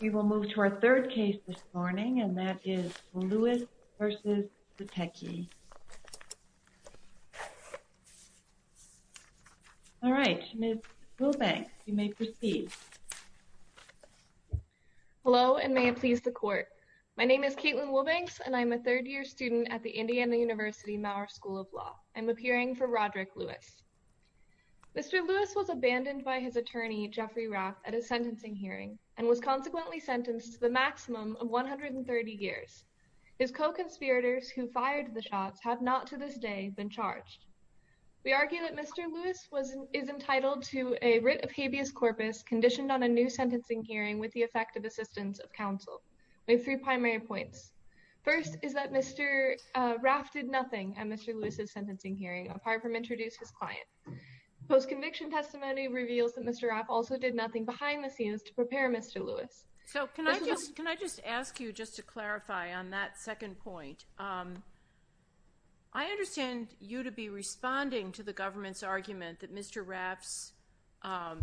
We will move to our third case this morning, and that is Lewis v. Zatecky. All right, Ms. Wilbanks, you may proceed. Hello, and may it please the Court. My name is Kaitlyn Wilbanks, and I am a third-year student at the Indiana University Maurer School of Law. I am appearing for Roderick Lewis. Mr. Lewis was abandoned by his attorney, Jeffrey Raff, at a sentencing hearing, and was consequently sentenced to the maximum of 130 years. His co-conspirators, who fired the shots, have not to this day been charged. We argue that Mr. Lewis is entitled to a writ of habeas corpus conditioned on a new sentencing hearing with the effect of assistance of counsel. We have three primary points. First is that Mr. Raff did nothing at Mr. Lewis's sentencing hearing apart from introduce his client. Post-conviction testimony reveals that Mr. Raff also did nothing behind the scenes to prepare Mr. Lewis. So can I just ask you just to clarify on that second point? I understand you to be responding to the government's argument that Mr. Raff's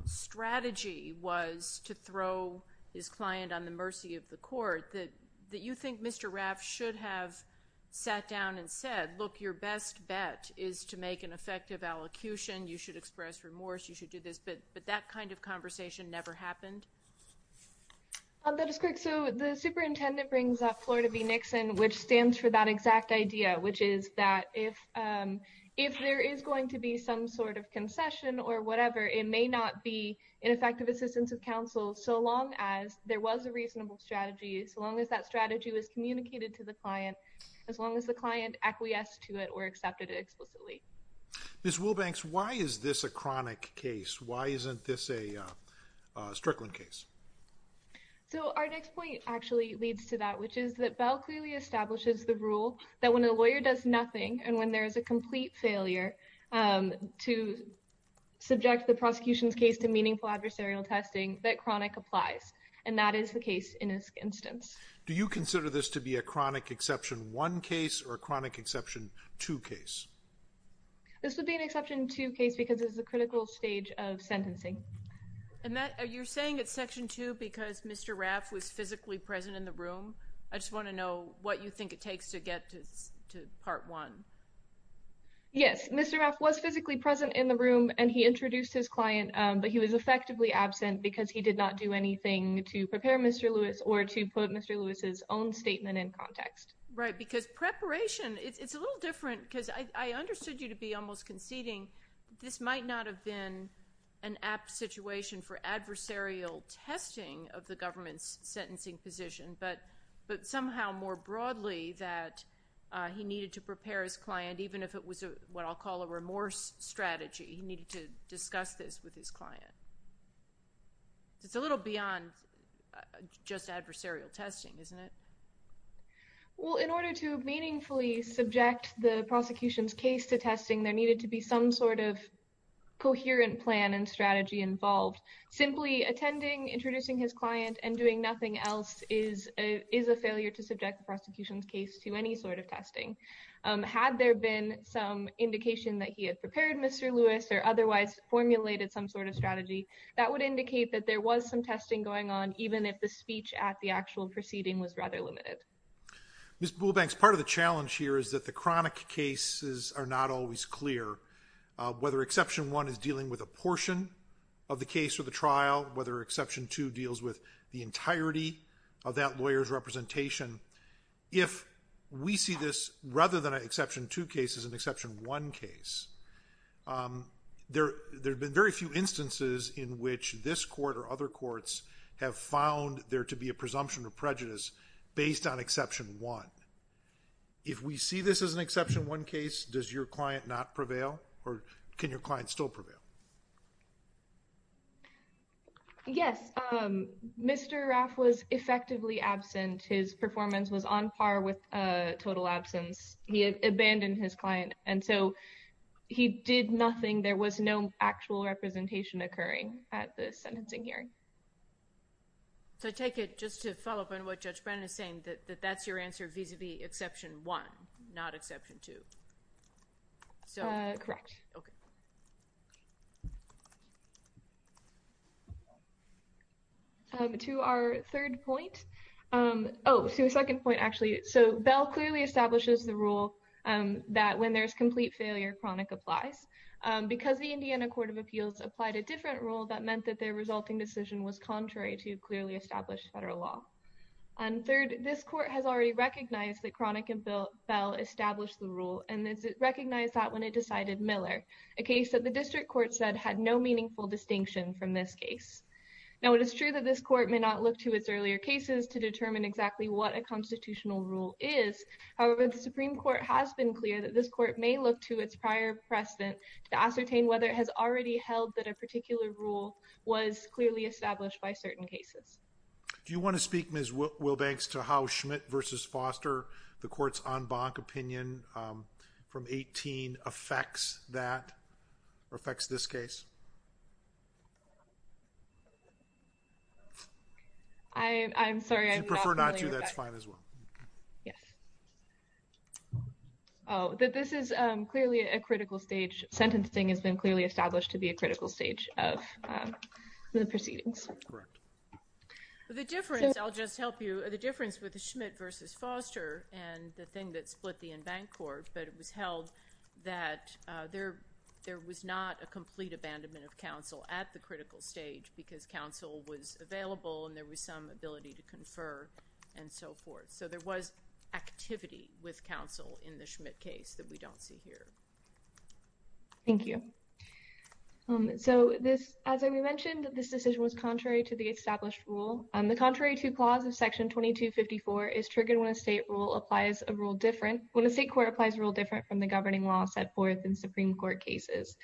strategy was to throw his client on the mercy of the court, that you think Mr. Raff should have sat down and said, look, your best bet is to make an effective allocution. You should express remorse. You should do this. But that kind of conversation never happened. That is correct. So the superintendent brings up Florida v. Nixon, which stands for that exact idea, which is that if if there is going to be some sort of concession or whatever, it may not be an effective assistance of counsel so long as there was a reasonable strategy, as long as that strategy was communicated to the client, as long as the client acquiesced to it or accepted it explicitly. Ms. Wilbanks, why is this a chronic case? Why isn't this a Strickland case? So our next point actually leads to that, which is that Bell clearly establishes the rule that when a lawyer does nothing and when there is a complete failure to subject the prosecution's case to meaningful adversarial testing, that chronic applies. And that is the case in this instance. Do you consider this to be a chronic Exception 1 case or a chronic Exception 2 case? This would be an Exception 2 case because it's a critical stage of sentencing. And that you're saying it's Section 2 because Mr. Raff was physically present in the room. I just want to know what you think it takes to get to Part 1. Yes, Mr. Raff was physically present in the room and he introduced his client, but he was effectively absent because he did not do anything to prepare Mr. Lewis or to put Mr. Lewis's own statement in context. Right, because preparation, it's a little different because I understood you to be almost conceding. This might not have been an apt situation for adversarial testing of the government's sentencing position, but somehow more broadly that he needed to prepare his client, even if it was what I'll call a remorse strategy. He needed to discuss this with his client. It's a little beyond just adversarial testing, isn't it? Well, in order to meaningfully subject the prosecution's case to testing, there needed to be some sort of coherent plan and strategy involved. Simply attending, introducing his client, and doing nothing else is a failure to subject the prosecution's case to any sort of testing. Had there been some indication that he had prepared Mr. Lewis or otherwise formulated some sort of strategy, that would indicate that there was some testing going on, even if the speech at the actual proceeding was rather limited. Ms. Buolbanks, part of the challenge here is that the chronic cases are not always clear, whether Exception 1 is dealing with a portion of the case or the trial, whether Exception 2 deals with the entirety of that lawyer's representation. If we see this rather than an Exception 2 case as an Exception 1 case, there have been very few instances in which this court or other courts have found there to be a presumption of prejudice based on Exception 1. If we see this as an Exception 1 case, does your client not prevail? Or can your client still prevail? Yes, Mr. Raff was effectively absent. His performance was on par with total absence. He had abandoned his client, and so he did nothing. There was no actual representation occurring at the sentencing hearing. So I take it, just to follow up on what Judge Brennan is saying, that that's your answer vis-à-vis Exception 1, not Exception 2. Correct. Okay. To our third point. Oh, to a second point, actually. So Bell clearly establishes the rule that when there's complete failure, chronic applies. Because the Indiana Court of Appeals applied a different rule, that meant that their resulting decision was contrary to clearly established federal law. And third, this court has already recognized that chronic and Bell established the rule, and recognized that when it decided Miller, a case that the district court said had no meaningful distinction from this case. Now, it is true that this court may not look to its earlier cases to determine exactly what a constitutional rule is. However, the Supreme Court has been clear that this court may look to its prior precedent to ascertain whether it has already held that a particular rule was clearly established by certain cases. Do you want to speak, Ms. Wilbanks, to how Schmidt v. Foster, the court's en banc opinion from 18, affects that, or affects this case? I'm sorry, I'm not familiar with that. If you prefer not to, that's fine as well. Yes. This is clearly a critical stage. Sentencing has been clearly established to be a critical stage of the proceedings. Correct. The difference, I'll just help you, the difference with Schmidt v. Foster and the thing that split the en banc court, but it was held that there was not a complete abandonment of counsel at the critical stage because counsel was available and there was some ability to confer and so forth. So there was activity with counsel in the Schmidt case that we don't see here. Thank you. So this, as we mentioned, this decision was contrary to the established rule. The contrary to clause of section 2254 is triggered when a state rule applies a rule different, when a state court applies a rule different from the governing law set forth in Supreme Court cases.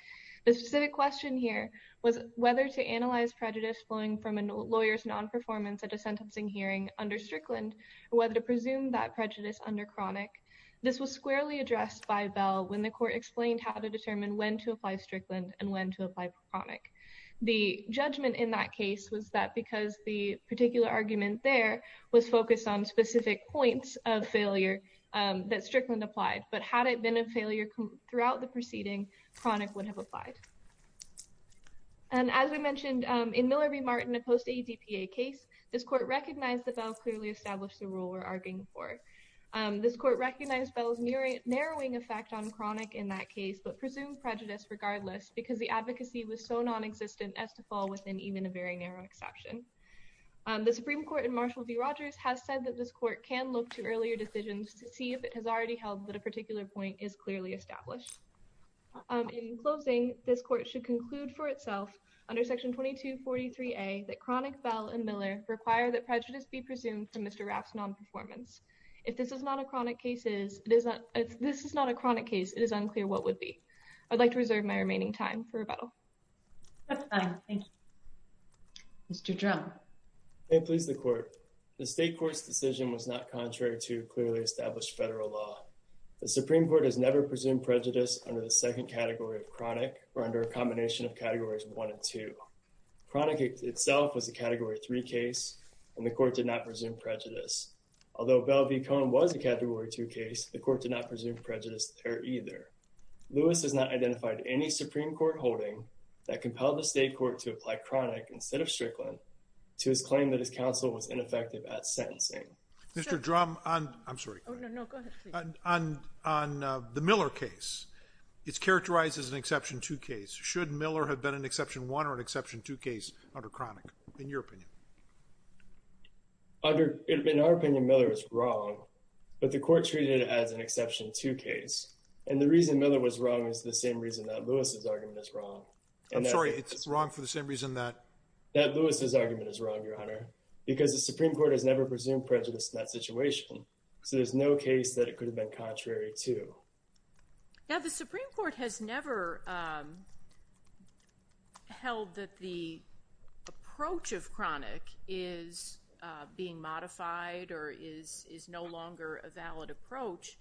The specific question here was whether to analyze prejudice flowing from a lawyer's non-performance at a sentencing hearing under Strickland or whether to presume that prejudice under Cronic. This was squarely addressed by Bell when the court explained how to determine when to apply Strickland and when to apply Cronic. The judgment in that case was that because the particular argument there was focused on specific points of failure that Strickland applied, but had it been a failure throughout the proceeding, Cronic would have applied. And as we mentioned, in Miller v. Martin, a post-ADPA case, this court recognized that Bell clearly established the rule we're arguing for. This court recognized Bell's narrowing effect on Cronic in that case, but presumed prejudice regardless because the advocacy was so non-existent as to fall within even a very narrow exception. The Supreme Court in Marshall v. Rogers has said that this court can look to earlier decisions to see if it has already held that a particular point is clearly established. In closing, this court should conclude for itself under Section 2243A that Cronic, Bell, and Miller require that prejudice be presumed from Mr. Raff's non-performance. If this is not a chronic case, it is unclear what would be. I'd like to reserve my remaining time for rebuttal. Mr. Drum. May it please the Court. The State Court's decision was not contrary to clearly established federal law. The Supreme Court has never presumed prejudice under the second category of chronic or under a combination of Categories 1 and 2. Cronic itself was a Category 3 case, and the court did not presume prejudice. Although Bell v. Cohen was a Category 2 case, the court did not presume prejudice there either. Lewis has not identified any Supreme Court holding that compelled the State Court to apply chronic instead of Strickland to his claim that his counsel was ineffective at sentencing. Mr. Drum, I'm sorry. On the Miller case, it's characterized as an Exception 2 case. Should Miller have been an Exception 1 or an Exception 2 case under chronic, in your opinion? In our opinion, Miller was wrong, but the court treated it as an Exception 2 case. And the reason Miller was wrong is the same reason that Lewis's argument is wrong. I'm sorry, it's wrong for the same reason that? That Lewis's argument is wrong, Your Honor, because the Supreme Court has never presumed prejudice in that situation. So there's no case that it could have been contrary to. Now, the Supreme Court has never held that the approach of chronic is being modified or is no longer a valid approach.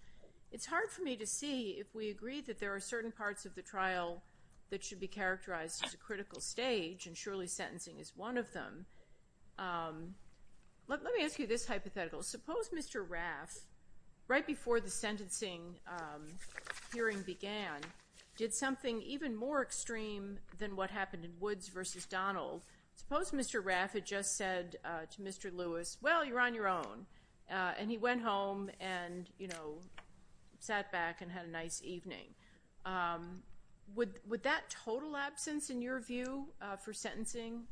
It's hard for me to see if we agree that there are certain parts of the trial that should be characterized as a critical stage, and surely sentencing is one of them. Let me ask you this hypothetical. Suppose Mr. Raff, right before the sentencing hearing began, did something even more extreme than what happened in Woods v. Donald. Suppose Mr. Raff had just said to Mr. Lewis, well, you're on your own, and he went home and sat back and had a nice evening. Would that total absence, in your view, for sentencing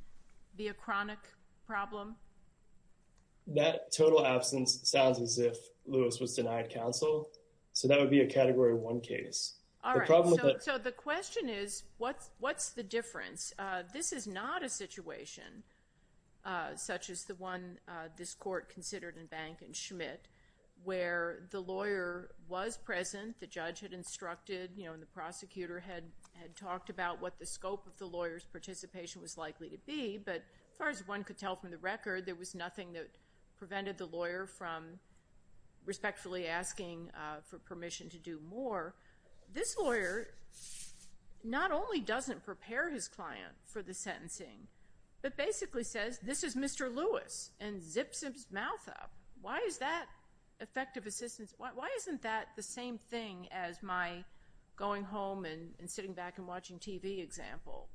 be a chronic problem? That total absence sounds as if Lewis was denied counsel. So that would be a Category 1 case. All right. So the question is, what's the difference? This is not a situation such as the one this court considered in Bank and Schmidt, where the lawyer was present, the judge had instructed, and the prosecutor had talked about what the scope of the lawyer's participation was likely to be. But as far as one could tell from the record, there was nothing that prevented the lawyer from respectfully asking for permission to do more. This lawyer not only doesn't prepare his client for the sentencing, but basically says, this is Mr. Lewis, and zips his mouth up. Why is that effective assistance? Why isn't that the same thing as my going home and sitting back and watching TV example?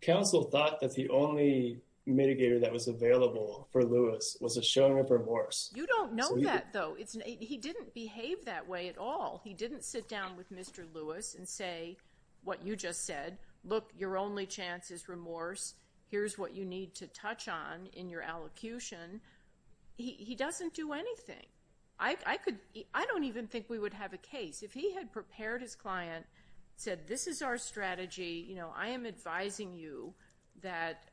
Counsel thought that the only mitigator that was available for Lewis was a showing of remorse. You don't know that, though. He didn't behave that way at all. He didn't sit down with Mr. Lewis and say what you just said. Look, your only chance is remorse. Here's what you need to touch on in your allocution. He doesn't do anything. I don't even think we would have a case. If he had prepared his client, said this is our strategy, you know, I am advising you that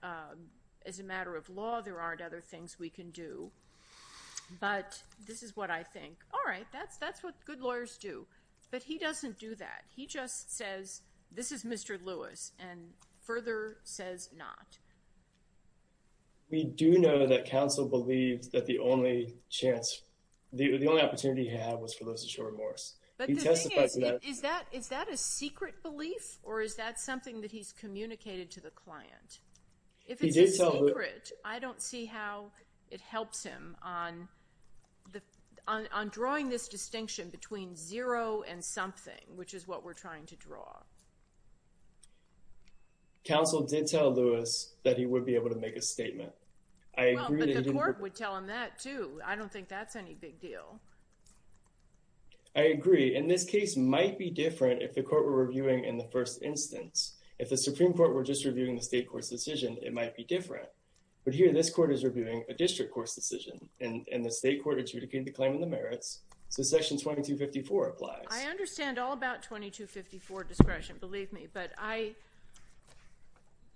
as a matter of law there aren't other things we can do. But this is what I think. All right, that's what good lawyers do. But he doesn't do that. He just says this is Mr. Lewis and further says not. We do know that counsel believed that the only chance, the only opportunity he had was for Lewis to show remorse. But the thing is, is that a secret belief or is that something that he's communicated to the client? If it's a secret, I don't see how it helps him on drawing this distinction between zero and something, which is what we're trying to draw. Counsel did tell Lewis that he would be able to make a statement. Well, but the court would tell him that, too. I don't think that's any big deal. I agree. And this case might be different if the court were reviewing in the first instance. If the Supreme Court were just reviewing the state court's decision, it might be different. But here this court is reviewing a district court's decision, and the state court adjudicated the claim in the merits, so Section 2254 applies. I understand all about 2254 discretion, believe me. But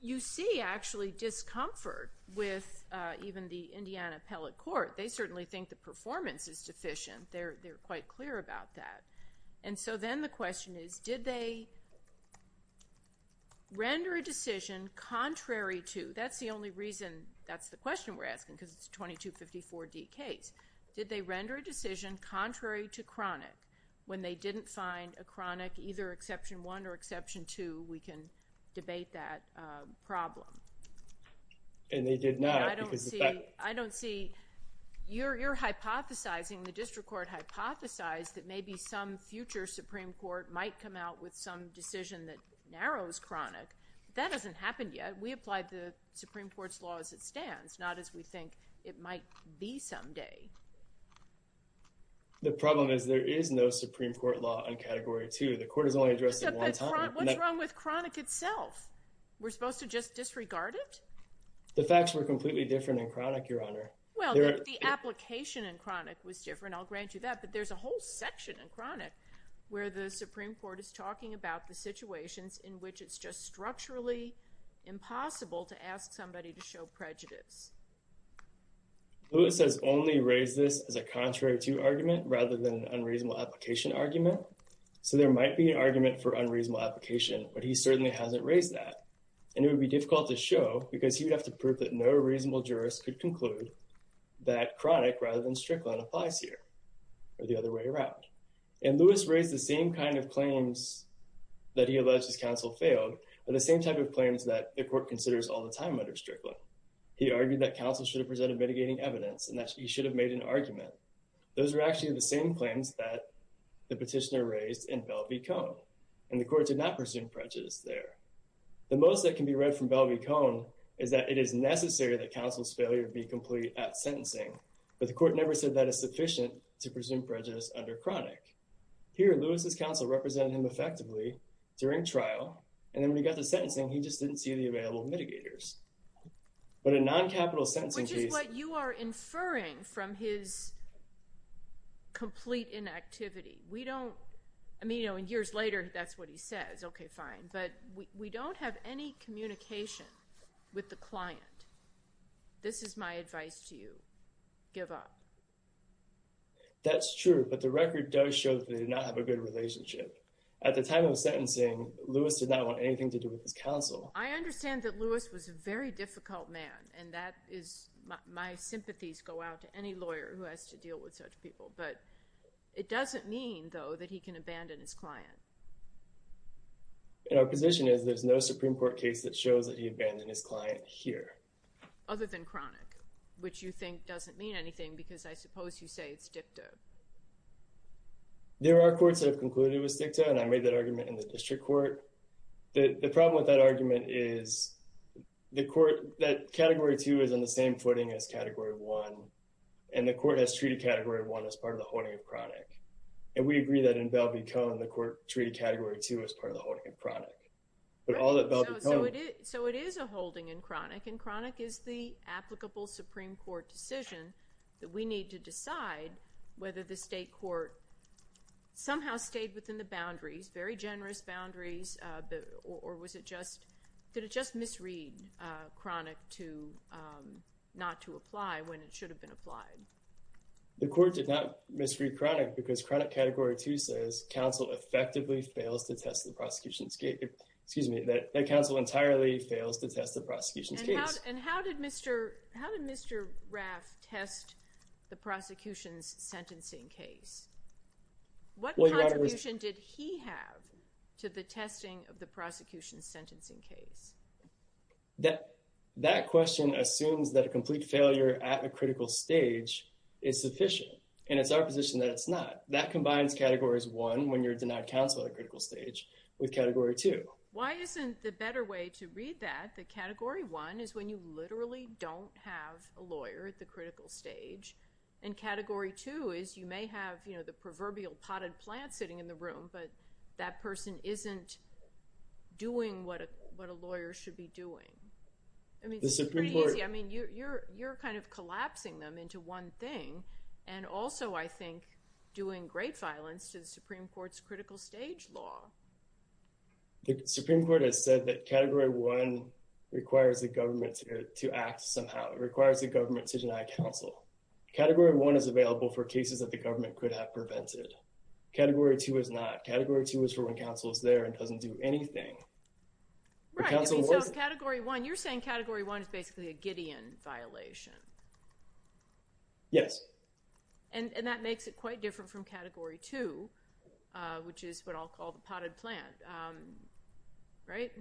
you see, actually, discomfort with even the Indiana appellate court. They certainly think the performance is deficient. They're quite clear about that. And so then the question is, did they render a decision contrary to? That's the only reason that's the question we're asking, because it's a 2254D case. Did they render a decision contrary to chronic? When they didn't find a chronic, either Exception 1 or Exception 2, we can debate that problem. And they did not. I don't see. You're hypothesizing, the district court hypothesized, that maybe some future Supreme Court might come out with some decision that narrows chronic. That hasn't happened yet. We applied the Supreme Court's law as it stands, not as we think it might be someday. The problem is there is no Supreme Court law on Category 2. The court has only addressed it one time. What's wrong with chronic itself? We're supposed to just disregard it? The facts were completely different in chronic, Your Honor. Well, the application in chronic was different. I'll grant you that. But there's a whole section in chronic where the Supreme Court is talking about the situations in which it's just structurally impossible to ask somebody to show prejudice. Lewis has only raised this as a contrary to argument rather than an unreasonable application argument. So there might be an argument for unreasonable application. But he certainly hasn't raised that. And it would be difficult to show because he would have to prove that no reasonable jurist could conclude that chronic rather than Strickland applies here or the other way around. And Lewis raised the same kind of claims that he alleged his counsel failed, or the same type of claims that the court considers all the time under Strickland. He argued that counsel should have presented mitigating evidence and that he should have made an argument. Those were actually the same claims that the petitioner raised in Belle v. Cone. And the court did not presume prejudice there. The most that can be read from Belle v. Cone is that it is necessary that counsel's failure be complete at sentencing. But the court never said that is sufficient to presume prejudice under chronic. Here, Lewis' counsel represented him effectively during trial. And then when he got to sentencing, he just didn't see the available mitigators. But a non-capital sentencing case— Which is what you are inferring from his complete inactivity. We don't—I mean, you know, years later, that's what he says. Okay, fine, but we don't have any communication with the client. This is my advice to you. Give up. That's true, but the record does show that they did not have a good relationship. At the time of sentencing, Lewis did not want anything to do with his counsel. I understand that Lewis was a very difficult man, and that is—my sympathies go out to any lawyer who has to deal with such people. But it doesn't mean, though, that he can abandon his client. And our position is there's no Supreme Court case that shows that he abandoned his client here. Other than chronic, which you think doesn't mean anything, because I suppose you say it's dicta. There are courts that have concluded it was dicta, and I made that argument in the district court. The problem with that argument is the court— that Category 2 is on the same footing as Category 1, and we agree that in Bell v. Cohn, the court treated Category 2 as part of the holding in chronic. But all that Bell v. Cohn— So it is a holding in chronic, and chronic is the applicable Supreme Court decision that we need to decide whether the state court somehow stayed within the boundaries, very generous boundaries, or was it just— did it just misread chronic to not to apply when it should have been applied? The court did not misread chronic because chronic Category 2 says counsel effectively fails to test the prosecution's case— excuse me, that counsel entirely fails to test the prosecution's case. And how did Mr. Raff test the prosecution's sentencing case? What contribution did he have to the testing of the prosecution's sentencing case? That question assumes that a complete failure at a critical stage is sufficient, and it's our position that it's not. That combines Categories 1, when you're denied counsel at a critical stage, with Category 2. Why isn't the better way to read that that Category 1 is when you literally don't have a lawyer at the critical stage, and Category 2 is you may have, you know, the proverbial potted plant sitting in the room, but that person isn't doing what a lawyer should be doing? I mean, it's pretty easy. I mean, you're kind of collapsing them into one thing, and also, I think, doing great violence to the Supreme Court's critical stage law. The Supreme Court has said that Category 1 requires the government to act somehow. It requires the government to deny counsel. Category 1 is available for cases that the government could have prevented. Category 2 is not. Category 2 is for when counsel is there and doesn't do anything. Right. So Category 1, you're saying Category 1 is basically a Gideon violation. Yes. And that makes it quite different from Category 2, which is what I'll call the potted plant, right?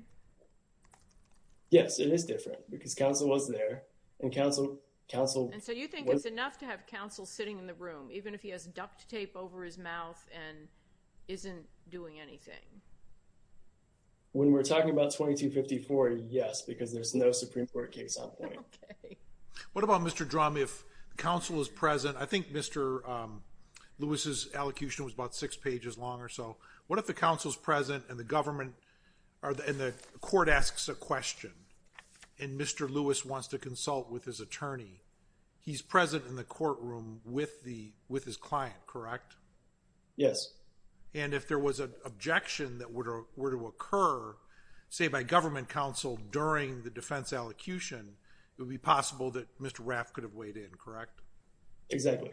Yes, it is different because counsel was there, and counsel— When we're talking about 2254, yes, because there's no Supreme Court case on point. Okay. What about, Mr. Drum, if counsel is present? I think Mr. Lewis's elocution was about six pages long or so. What if the counsel is present and the government—and the court asks a question, and Mr. Lewis wants to consult with his attorney? He's present in the courtroom with his client, correct? Yes. And if there was an objection that were to occur, say, by government counsel during the defense elocution, it would be possible that Mr. Raff could have weighed in, correct? Exactly.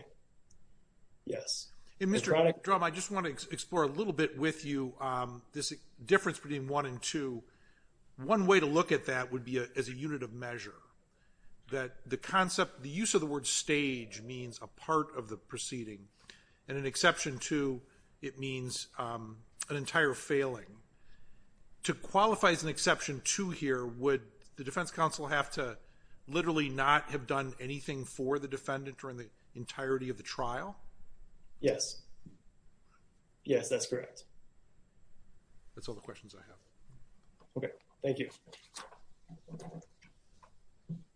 Yes. And, Mr. Drum, I just want to explore a little bit with you this difference between 1 and 2. One way to look at that would be as a unit of measure, that the concept— the use of the word stage means a part of the proceeding, and in Exception 2, it means an entire failing. To qualify as an Exception 2 here, would the defense counsel have to literally not have done anything for the defendant during the entirety of the trial? Yes. Yes, that's correct. That's all the questions I have. Okay, thank you.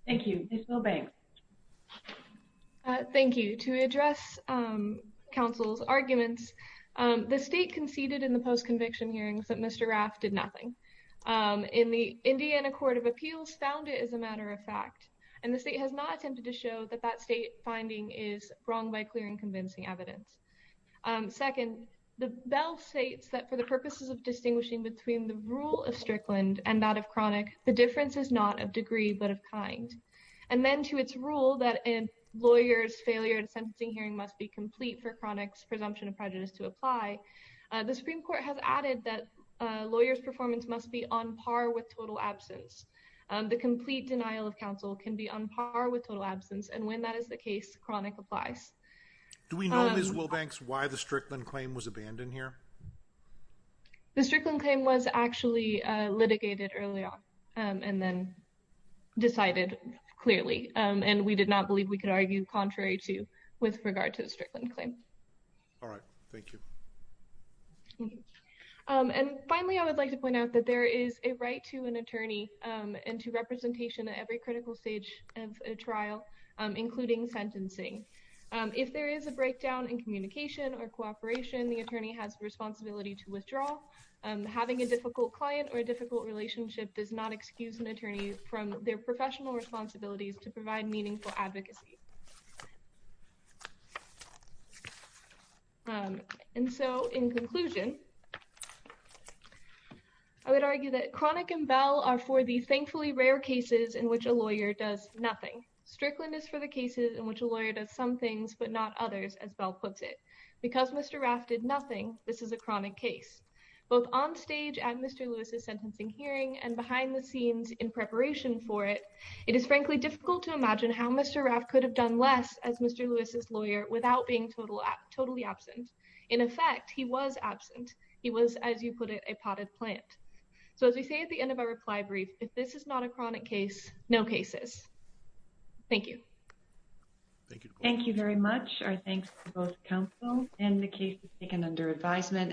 Thank you. Ms. Milbank. Thank you. To address counsel's arguments, the state conceded in the post-conviction hearings that Mr. Raff did nothing. And the Indiana Court of Appeals found it as a matter of fact, and the state has not attempted to show that that state finding is wrong by clearing convincing evidence. Second, the bill states that for the purposes of distinguishing between the rule of Strickland and that of Cronic, the difference is not of degree but of kind. And then to its rule that a lawyer's failure in a sentencing hearing must be complete for Cronic's presumption of prejudice to apply, the Supreme Court has added that a lawyer's performance must be on par with total absence. The complete denial of counsel can be on par with total absence, and when that is the case, Cronic applies. Do we know, Ms. Milbank, why the Strickland claim was abandoned here? The Strickland claim was actually litigated early on and then decided clearly, and we did not believe we could argue contrary to with regard to the Strickland claim. All right, thank you. And finally, I would like to point out that there is a right to an attorney and to representation at every critical stage of a trial, including sentencing. If there is a breakdown in communication or cooperation, the attorney has a responsibility to withdraw. Having a difficult client or a difficult relationship does not excuse an attorney from their professional responsibilities to provide meaningful advocacy. And so in conclusion, I would argue that Cronic and Bell are for the thankfully rare cases in which a lawyer does nothing. Strickland is for the cases in which a lawyer does some things, but not others, as Bell puts it. Because Mr. Raff did nothing, this is a chronic case, both on stage and Mr. Lewis's sentencing hearing and behind the scenes in preparation for it. It is frankly difficult to imagine how Mr. Raff could have done less as Mr. Lewis's lawyer without being totally absent. In effect, he was absent. He was, as you put it, a potted plant. So as we say at the end of our reply brief, if this is not a chronic case, no cases. Thank you. Thank you very much. Our thanks to both counsel and the cases taken under advisement.